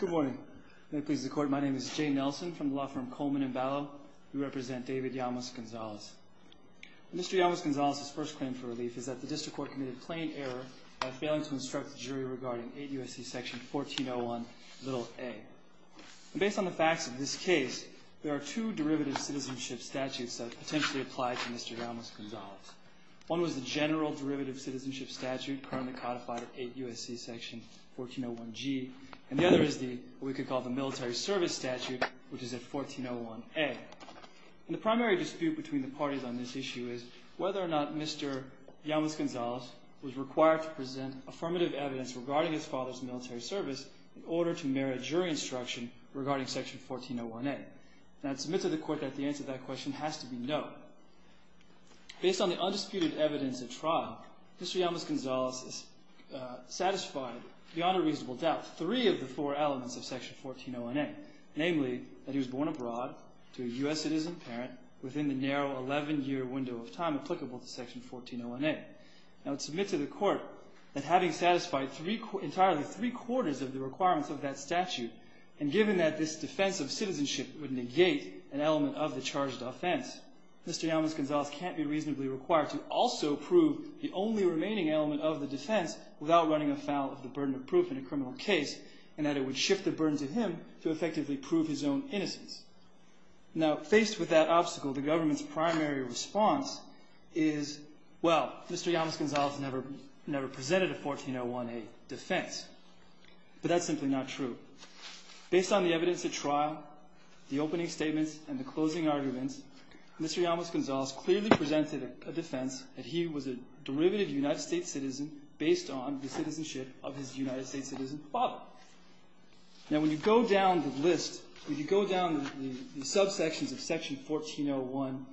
Good morning. May it please the Court, my name is Jay Nelson from the law firm Coleman & Ballow. We represent David Llamas-Gonzales. Mr. Llamas-Gonzales' first claim for relief is that the District Court committed plain error by failing to instruct the jury regarding 8 U.S.C. section 1401, little a. Based on the facts of this case, there are two derivative citizenship statutes that potentially apply to Mr. Llamas-Gonzales. One was the general derivative citizenship statute currently codified at 8 U.S.C. section 1401G, and the other is what we could call the military service statute, which is at 1401A. And the primary dispute between the parties on this issue is whether or not Mr. Llamas-Gonzales was required to present affirmative evidence regarding his father's military service in order to merit jury instruction regarding section 1401A. And I'd submit to the Court that the answer to that question has to be no. Based on the undisputed evidence at trial, Mr. Llamas-Gonzales is satisfied beyond a reasonable doubt three of the four elements of section 1401A, namely that he was born abroad to a U.S. citizen parent within the narrow 11-year window of time applicable to section 1401A. I would submit to the Court that having satisfied entirely three-quarters of the requirements of that statute and given that this defense of citizenship would negate an element of the charged offense, Mr. Llamas-Gonzales can't be reasonably required to also prove the only remaining element of the defense without running afoul of the burden of proof in a criminal case, and that it would shift the burden to him to effectively prove his own innocence. Now, faced with that obstacle, the government's primary response is, well, Mr. Llamas-Gonzales never presented a 1401A defense, but that's simply not true. Based on the evidence at trial, the opening statements, and the closing arguments, Mr. Llamas-Gonzales clearly presented a defense that he was a derivative United States citizen based on the citizenship of his United States citizen father. Now, when you go down the list, when you go down the subsections of section 1401,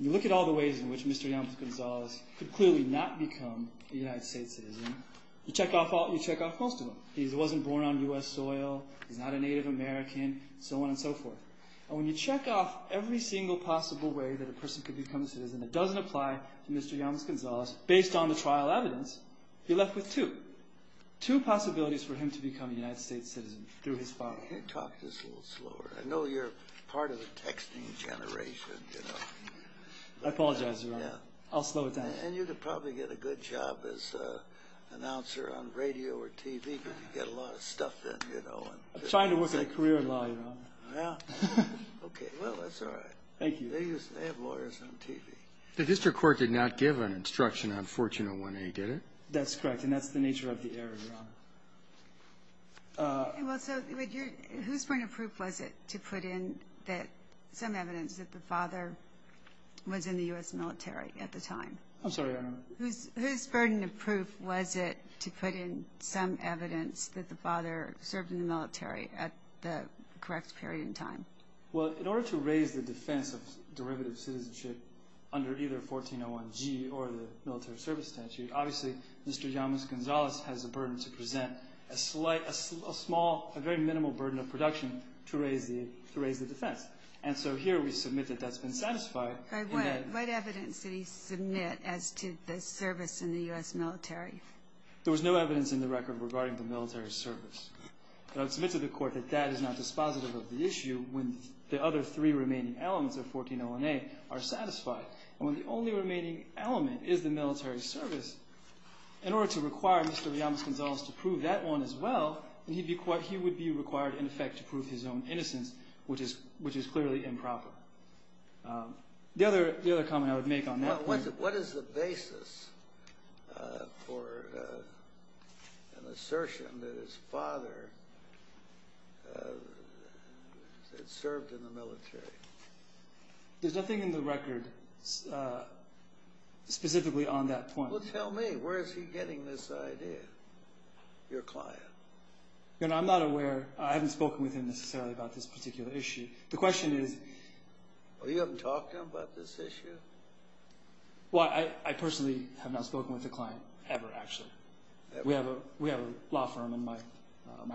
you look at all the ways in which Mr. Llamas-Gonzales could clearly not become a United States citizen, you check off most of them. He wasn't born on U.S. soil, he's not a Native American, so on and so forth. And when you check off every single possible way that a person could become a citizen that doesn't apply to Mr. Llamas-Gonzales based on the trial evidence, you're left with two, two possibilities for him to become a United States citizen through his father. Can you talk this a little slower? I know you're part of the texting generation, you know. I apologize, Your Honor. I'll slow it down. And you could probably get a good job as an announcer on radio or TV, but you get a lot of stuff in, you know. I'm trying to work in a career in law, Your Honor. Yeah? Okay. Well, that's all right. Thank you. They have lawyers on TV. The district court did not give an instruction on 1401A, did it? That's correct, and that's the nature of the error, Your Honor. Well, so whose point of proof was it to put in some evidence that the father was in the U.S. military at the time? I'm sorry, Your Honor. Whose burden of proof was it to put in some evidence that the father served in the military at the correct period in time? Well, in order to raise the defense of derivative citizenship under either 1401G or the military service statute, obviously Mr. Llamas-Gonzalez has the burden to present a small, a very minimal burden of production to raise the defense. And so here we submit that that's been satisfied. But what evidence did he submit as to the service in the U.S. military? There was no evidence in the record regarding the military service. And I would submit to the Court that that is not dispositive of the issue when the other three remaining elements of 1401A are satisfied. And when the only remaining element is the military service, in order to require Mr. Llamas-Gonzalez to prove that one as well, he would be required, in effect, to prove his own innocence, which is clearly improper. The other comment I would make on that point— What is the basis for an assertion that his father had served in the military? There's nothing in the record specifically on that point. Well, tell me, where is he getting this idea, your client? You know, I'm not aware—I haven't spoken with him necessarily about this particular issue. The question is— Well, you haven't talked to him about this issue? Well, I personally have not spoken with the client ever, actually. We have a law firm, and my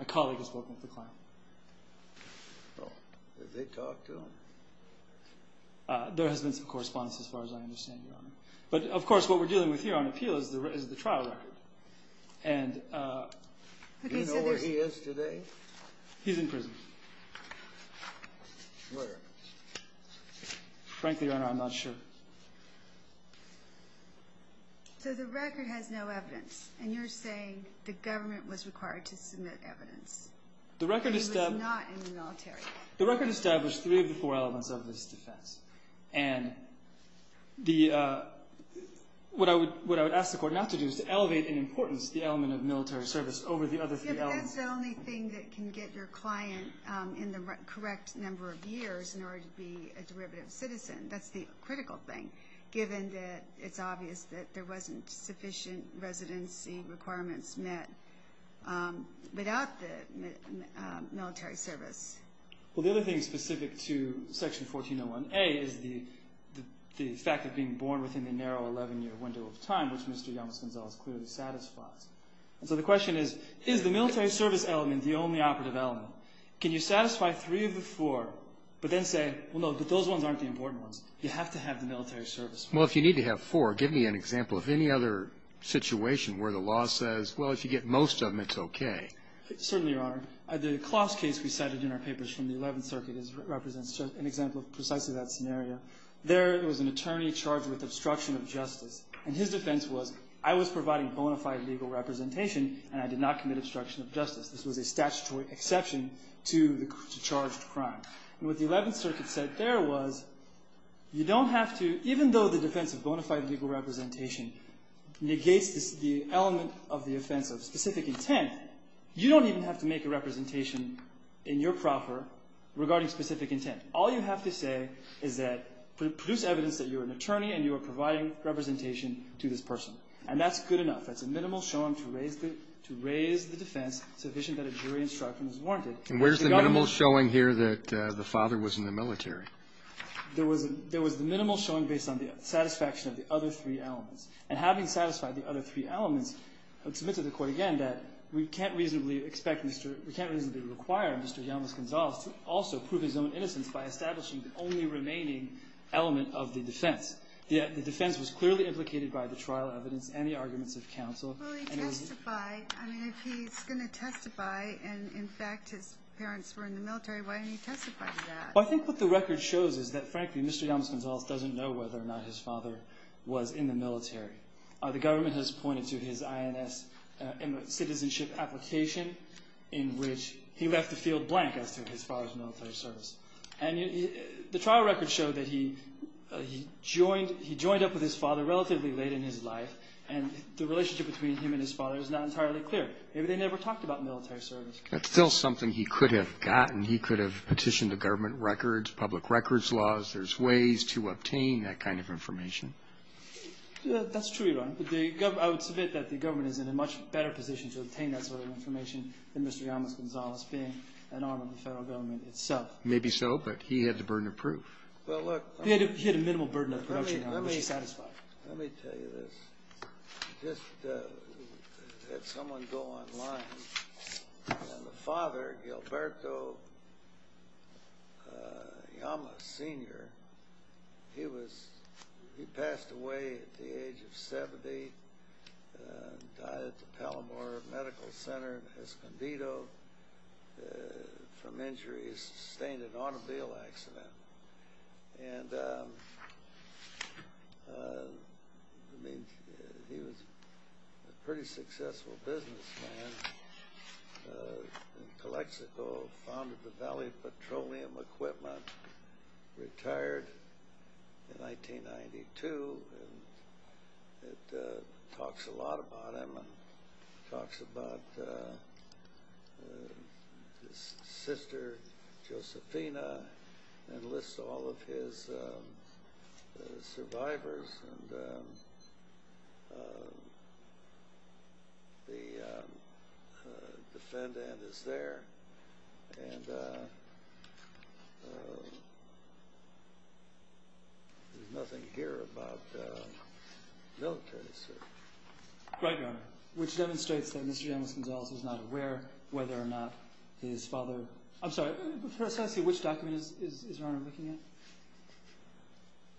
colleague has spoken with the client. Well, did they talk to him? There has been some correspondence, as far as I understand, your Honor. But, of course, what we're dealing with here on appeal is the trial record. And— Do you know where he is today? He's in prison. Where? Frankly, your Honor, I'm not sure. So the record has no evidence, and you're saying the government was required to submit evidence. The record established— He was not in the military. The record established three of the four elements of this defense. And what I would ask the Court not to do is to elevate in importance the element of military service over the other three elements. Yeah, but that's the only thing that can get your client in the correct number of years in order to be a derivative citizen. That's the critical thing, given that it's obvious that there wasn't sufficient residency requirements met. Without the military service. Well, the other thing specific to Section 1401A is the fact of being born within the narrow 11-year window of time, which Mr. Yamas Gonzalez clearly satisfies. And so the question is, is the military service element the only operative element? Can you satisfy three of the four, but then say, well, no, but those ones aren't the important ones. You have to have the military service. Well, if you need to have four, give me an example of any other situation where the law says, well, if you get most of them, it's okay. Certainly, Your Honor. The Kloss case we cited in our papers from the Eleventh Circuit represents an example of precisely that scenario. There was an attorney charged with obstruction of justice. And his defense was, I was providing bona fide legal representation, and I did not commit obstruction of justice. This was a statutory exception to the charged crime. And what the Eleventh Circuit said there was you don't have to, even though the defense of bona fide legal representation negates the element of the offense of specific intent, you don't even have to make a representation in your proffer regarding specific intent. All you have to say is that produce evidence that you're an attorney and you are providing representation to this person. And that's good enough. That's a minimal showing to raise the defense sufficient that a jury instruction is warranted. And where's the minimal showing here that the father was in the military? There was a minimal showing based on the satisfaction of the other three elements. And having satisfied the other three elements, I would submit to the Court again that we can't reasonably expect Mr. We can't reasonably require Mr. Gonzalez to also prove his own innocence by establishing the only remaining element of the defense. The defense was clearly implicated by the trial evidence and the arguments of counsel. Well, he testified. I mean, if he's going to testify and, in fact, his parents were in the military, why didn't he testify to that? Well, I think what the record shows is that, frankly, Mr. Yamas Gonzalez doesn't know whether or not his father was in the military. The government has pointed to his INS citizenship application in which he left the field blank as to his father's military service. And the trial records show that he joined up with his father relatively late in his life. And the relationship between him and his father is not entirely clear. They never talked about military service. That's still something he could have gotten. He could have petitioned the government records, public records laws. There's ways to obtain that kind of information. That's true, Your Honor. I would submit that the government is in a much better position to obtain that sort of information than Mr. Yamas Gonzalez being an arm of the Federal Government itself. Maybe so, but he had the burden of proof. Well, look. He had a minimal burden of proof. Let me tell you this. I just had someone go online. And the father, Gilberto Yamas, Sr., he passed away at the age of 70. Died at the Palomar Medical Center in Escondido from injuries sustained in an automobile accident. And, I mean, he was a pretty successful businessman in Calexico. Founded the Valley Petroleum Equipment. Retired in 1992. And it talks a lot about him. It talks about his sister, Josefina, and lists all of his survivors. And the defendant is there. And there's nothing here about military service. Right, Your Honor. Which demonstrates that Mr. Yamas Gonzalez was not aware whether or not his father – I'm sorry. Can I see which document is Your Honor looking at?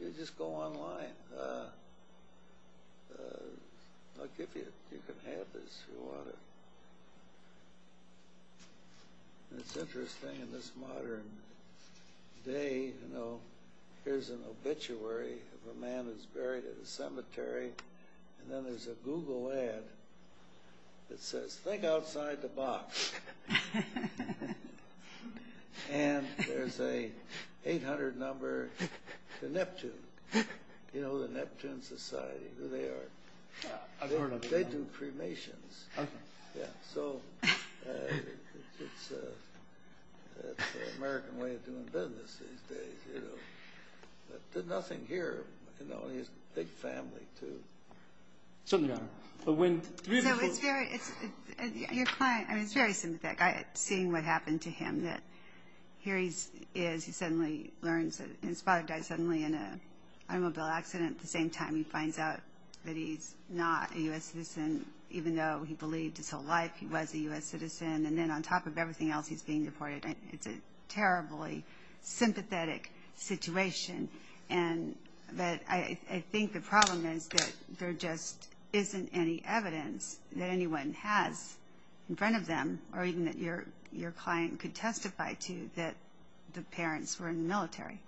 You just go online. I'll give you it. You can have this if you want it. And it's interesting in this modern day, you know, here's an obituary of a man who's buried at a cemetery, and then there's a Google ad that says, Think outside the box. And there's a 800 number to Neptune. You know, the Neptune Society. Who they are. I've heard of them. They do cremations. Okay. Yeah, so it's an American way of doing business these days, you know. You know, he has a big family too. Certainly, Your Honor. So it's very sympathetic seeing what happened to him. Here he is. He suddenly learns that his father died suddenly in an automobile accident. At the same time, he finds out that he's not a U.S. citizen, even though he believed his whole life he was a U.S. citizen. And then on top of everything else, he's being deported. It's a terribly sympathetic situation. But I think the problem is that there just isn't any evidence that anyone has in front of them, or even that your client could testify to, that the parents were in the military.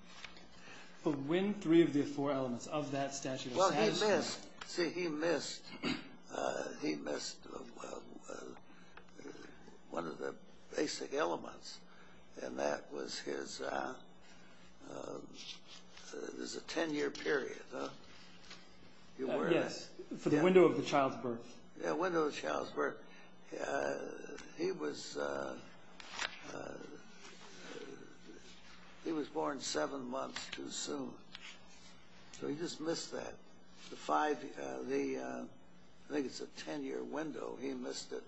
But when three of the four elements of that statute are stated? Well, he missed. See, he missed one of the basic elements, and that was his ten-year period. Yes, for the window of the child's birth. Yeah, window of the child's birth. He was born seven months too soon. So he just missed that. I think it's a ten-year window. He missed it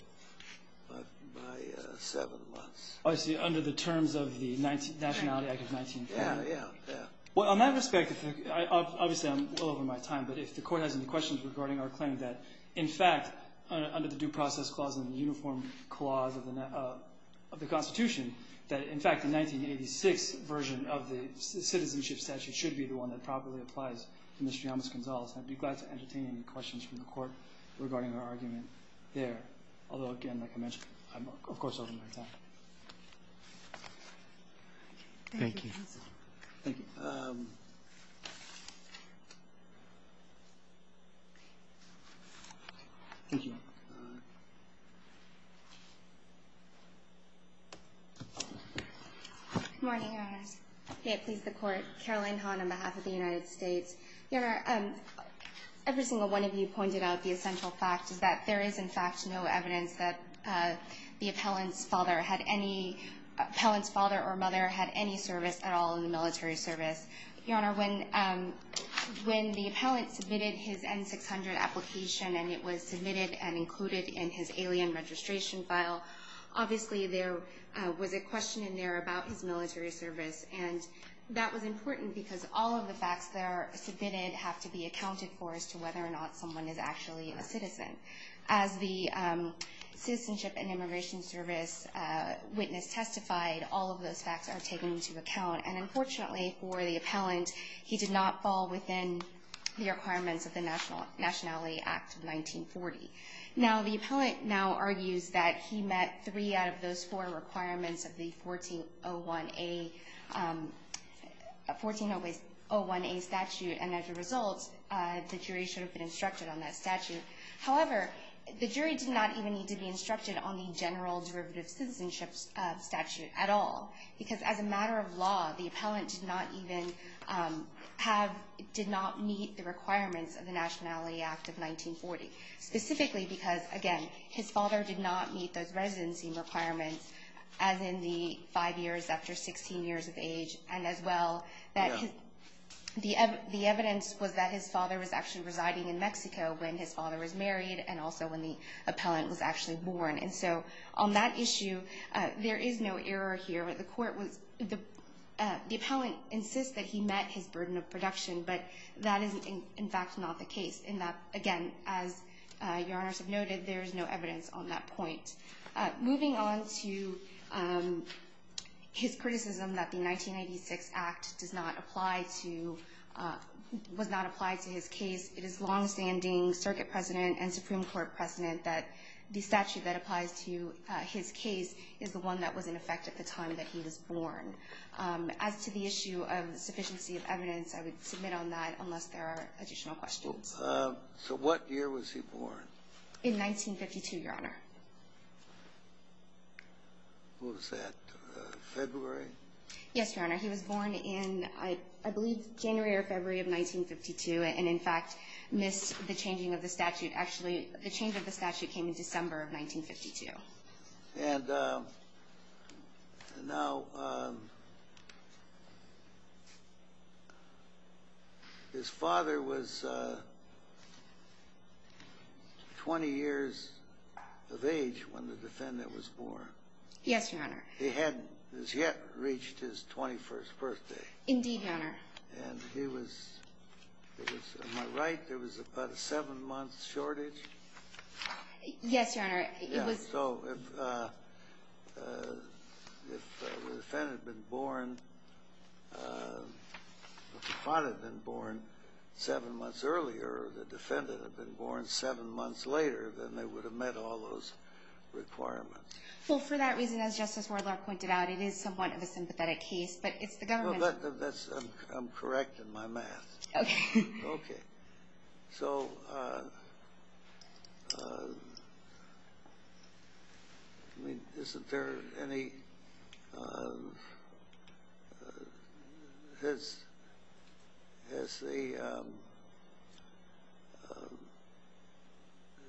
by seven months. Oh, I see, under the terms of the Nationality Act of 1950. Yeah, yeah, yeah. Well, in that respect, obviously I'm well over my time, but if the Court has any questions regarding our claim that, in fact, under the Due Process Clause and the Uniform Clause of the Constitution, that, in fact, the 1986 version of the Citizenship Statute should be the one that properly applies to Mr. Yamas Gonzalez, I'd be glad to entertain any questions from the Court regarding our argument there. Although, again, like I mentioned, I'm, of course, over my time. Thank you. Thank you. Thank you. Good morning, Your Honors. May it please the Court. Caroline Hahn on behalf of the United States. Your Honor, every single one of you pointed out the essential fact that there is, in fact, no evidence that the appellant's father or mother had any service at all in the military service. Your Honor, when the appellant submitted his N-600 application and it was submitted and included in his alien registration file, obviously there was a question in there about his military service, and that was important because all of the facts that are submitted have to be accounted for as to whether or not someone is actually a citizen. As the Citizenship and Immigration Service witness testified, all of those facts are taken into account, and unfortunately for the appellant he did not fall within the requirements of the Nationality Act of 1940. Now, the appellant now argues that he met three out of those four requirements of the 1401A statute, and as a result, the jury should have been instructed on that statute. However, the jury did not even need to be instructed on the general derivative citizenship statute at all because as a matter of law, the appellant did not meet the requirements of the Nationality Act of 1940, specifically because, again, his father did not meet those residency requirements as in the five years after 16 years of age, and as well the evidence was that his father was actually residing in Mexico when his father was married and also when the appellant was actually born. And so on that issue, there is no error here. The appellant insists that he met his burden of production, but that is, in fact, not the case. Again, as Your Honors have noted, there is no evidence on that point. Moving on to his criticism that the 1986 Act does not apply to his case, it is longstanding circuit precedent and Supreme Court precedent that the statute that applies to his case is the one that was in effect at the time that he was born. As to the issue of sufficiency of evidence, I would submit on that unless there are additional questions. So what year was he born? In 1952, Your Honor. Was that February? Yes, Your Honor. He was born in, I believe, January or February of 1952 and, in fact, missed the changing of the statute. Actually, the change of the statute came in December of 1952. And now, his father was 20 years of age when the defendant was born. Yes, Your Honor. He hadn't as yet reached his 21st birthday. Indeed, Your Honor. And he was, am I right, there was about a seven-month shortage? Yes, Your Honor. So if the defendant had been born seven months earlier or the defendant had been born seven months later, then they would have met all those requirements. Well, for that reason, as Justice Wardlaw pointed out, it is somewhat of a sympathetic case, but it's the government's. I'm correct in my math. Okay. Okay. So isn't there any – has the –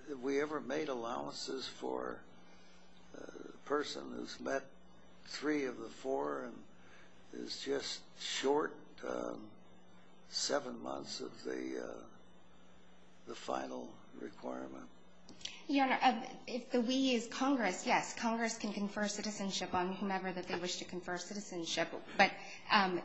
have we ever made allowances for a person who's met three of the four and is just short seven months of the final requirement? Your Honor, if the we is Congress, yes. Congress can confer citizenship on whomever that they wish to confer citizenship. But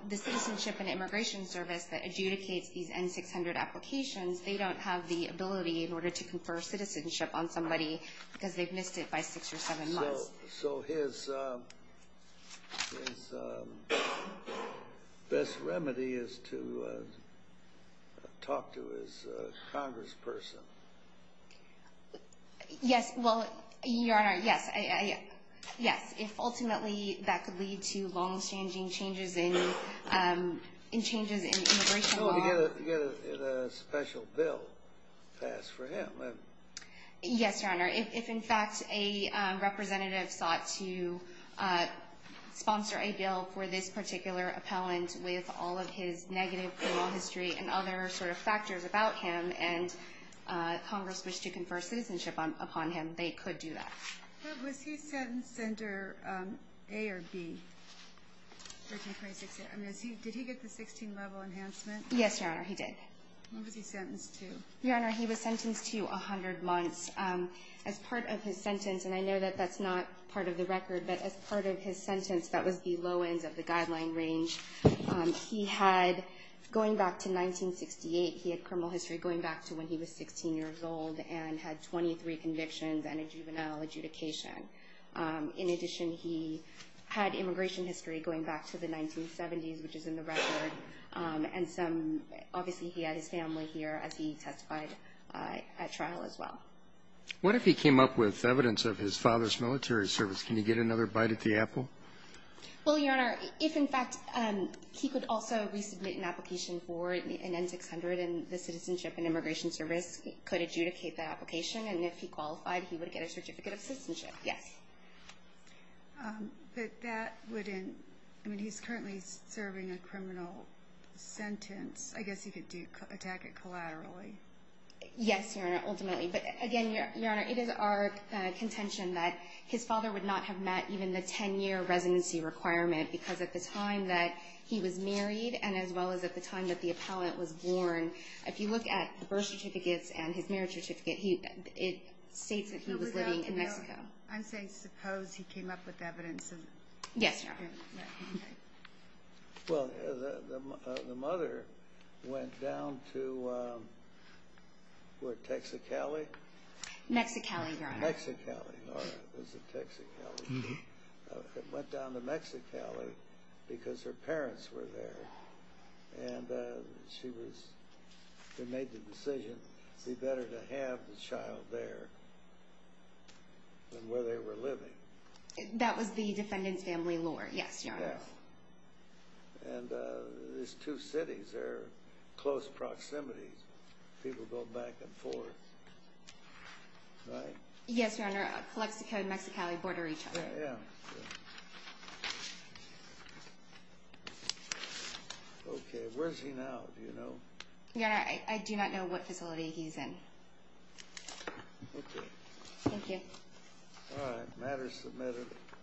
the Citizenship and Immigration Service that adjudicates these N-600 applications, they don't have the ability in order to confer citizenship on somebody because they've missed it by six or seven months. So his best remedy is to talk to his congressperson. Yes. Well, Your Honor, yes. Yes. If ultimately that could lead to long-standing changes in immigration law. Well, to get a special bill passed for him. Yes, Your Honor. If, in fact, a representative sought to sponsor a bill for this particular appellant with all of his negative criminal history and other sort of factors about him and Congress wished to confer citizenship upon him, they could do that. But was he sentenced under A or B, 1326A? I mean, did he get the 16-level enhancement? Yes, Your Honor, he did. When was he sentenced to? Your Honor, he was sentenced to 100 months. As part of his sentence, and I know that that's not part of the record, but as part of his sentence that was the low ends of the guideline range, he had going back to 1968, he had criminal history going back to when he was 16 years old and had 23 convictions and a juvenile adjudication. In addition, he had immigration history going back to the 1970s, which is in the record, and obviously he had his family here as he testified at trial as well. What if he came up with evidence of his father's military service? Can he get another bite at the apple? Well, Your Honor, if, in fact, he could also resubmit an application for an N-600 and the Citizenship and Immigration Service could adjudicate that application, and if he qualified, he would get a certificate of citizenship. Yes. But that wouldn't—I mean, he's currently serving a criminal sentence. I guess he could attack it collaterally. Yes, Your Honor, ultimately. But, again, Your Honor, it is our contention that his father would not have met even the 10-year residency requirement because at the time that he was married and as well as at the time that the appellant was born, if you look at the birth certificates and his marriage certificate, it states that he was living in Mexico. I'm saying suppose he came up with evidence of— Yes, Your Honor. Well, the mother went down to, what, Texicali? Mexicali, Your Honor. Mexicali, Your Honor. It was in Texicali. Went down to Mexicali because her parents were there, and she was—they made the decision, it'd be better to have the child there than where they were living. That was the defendant's family lore, yes, Your Honor. Yes. And there's two cities, they're close proximities. People go back and forth, right? Yes, Your Honor, Calexico and Mexicali border each other. Yeah, yeah. Okay, where's he now? Do you know? Your Honor, I do not know what facility he's in. Okay. Thank you. All right, matter submitted.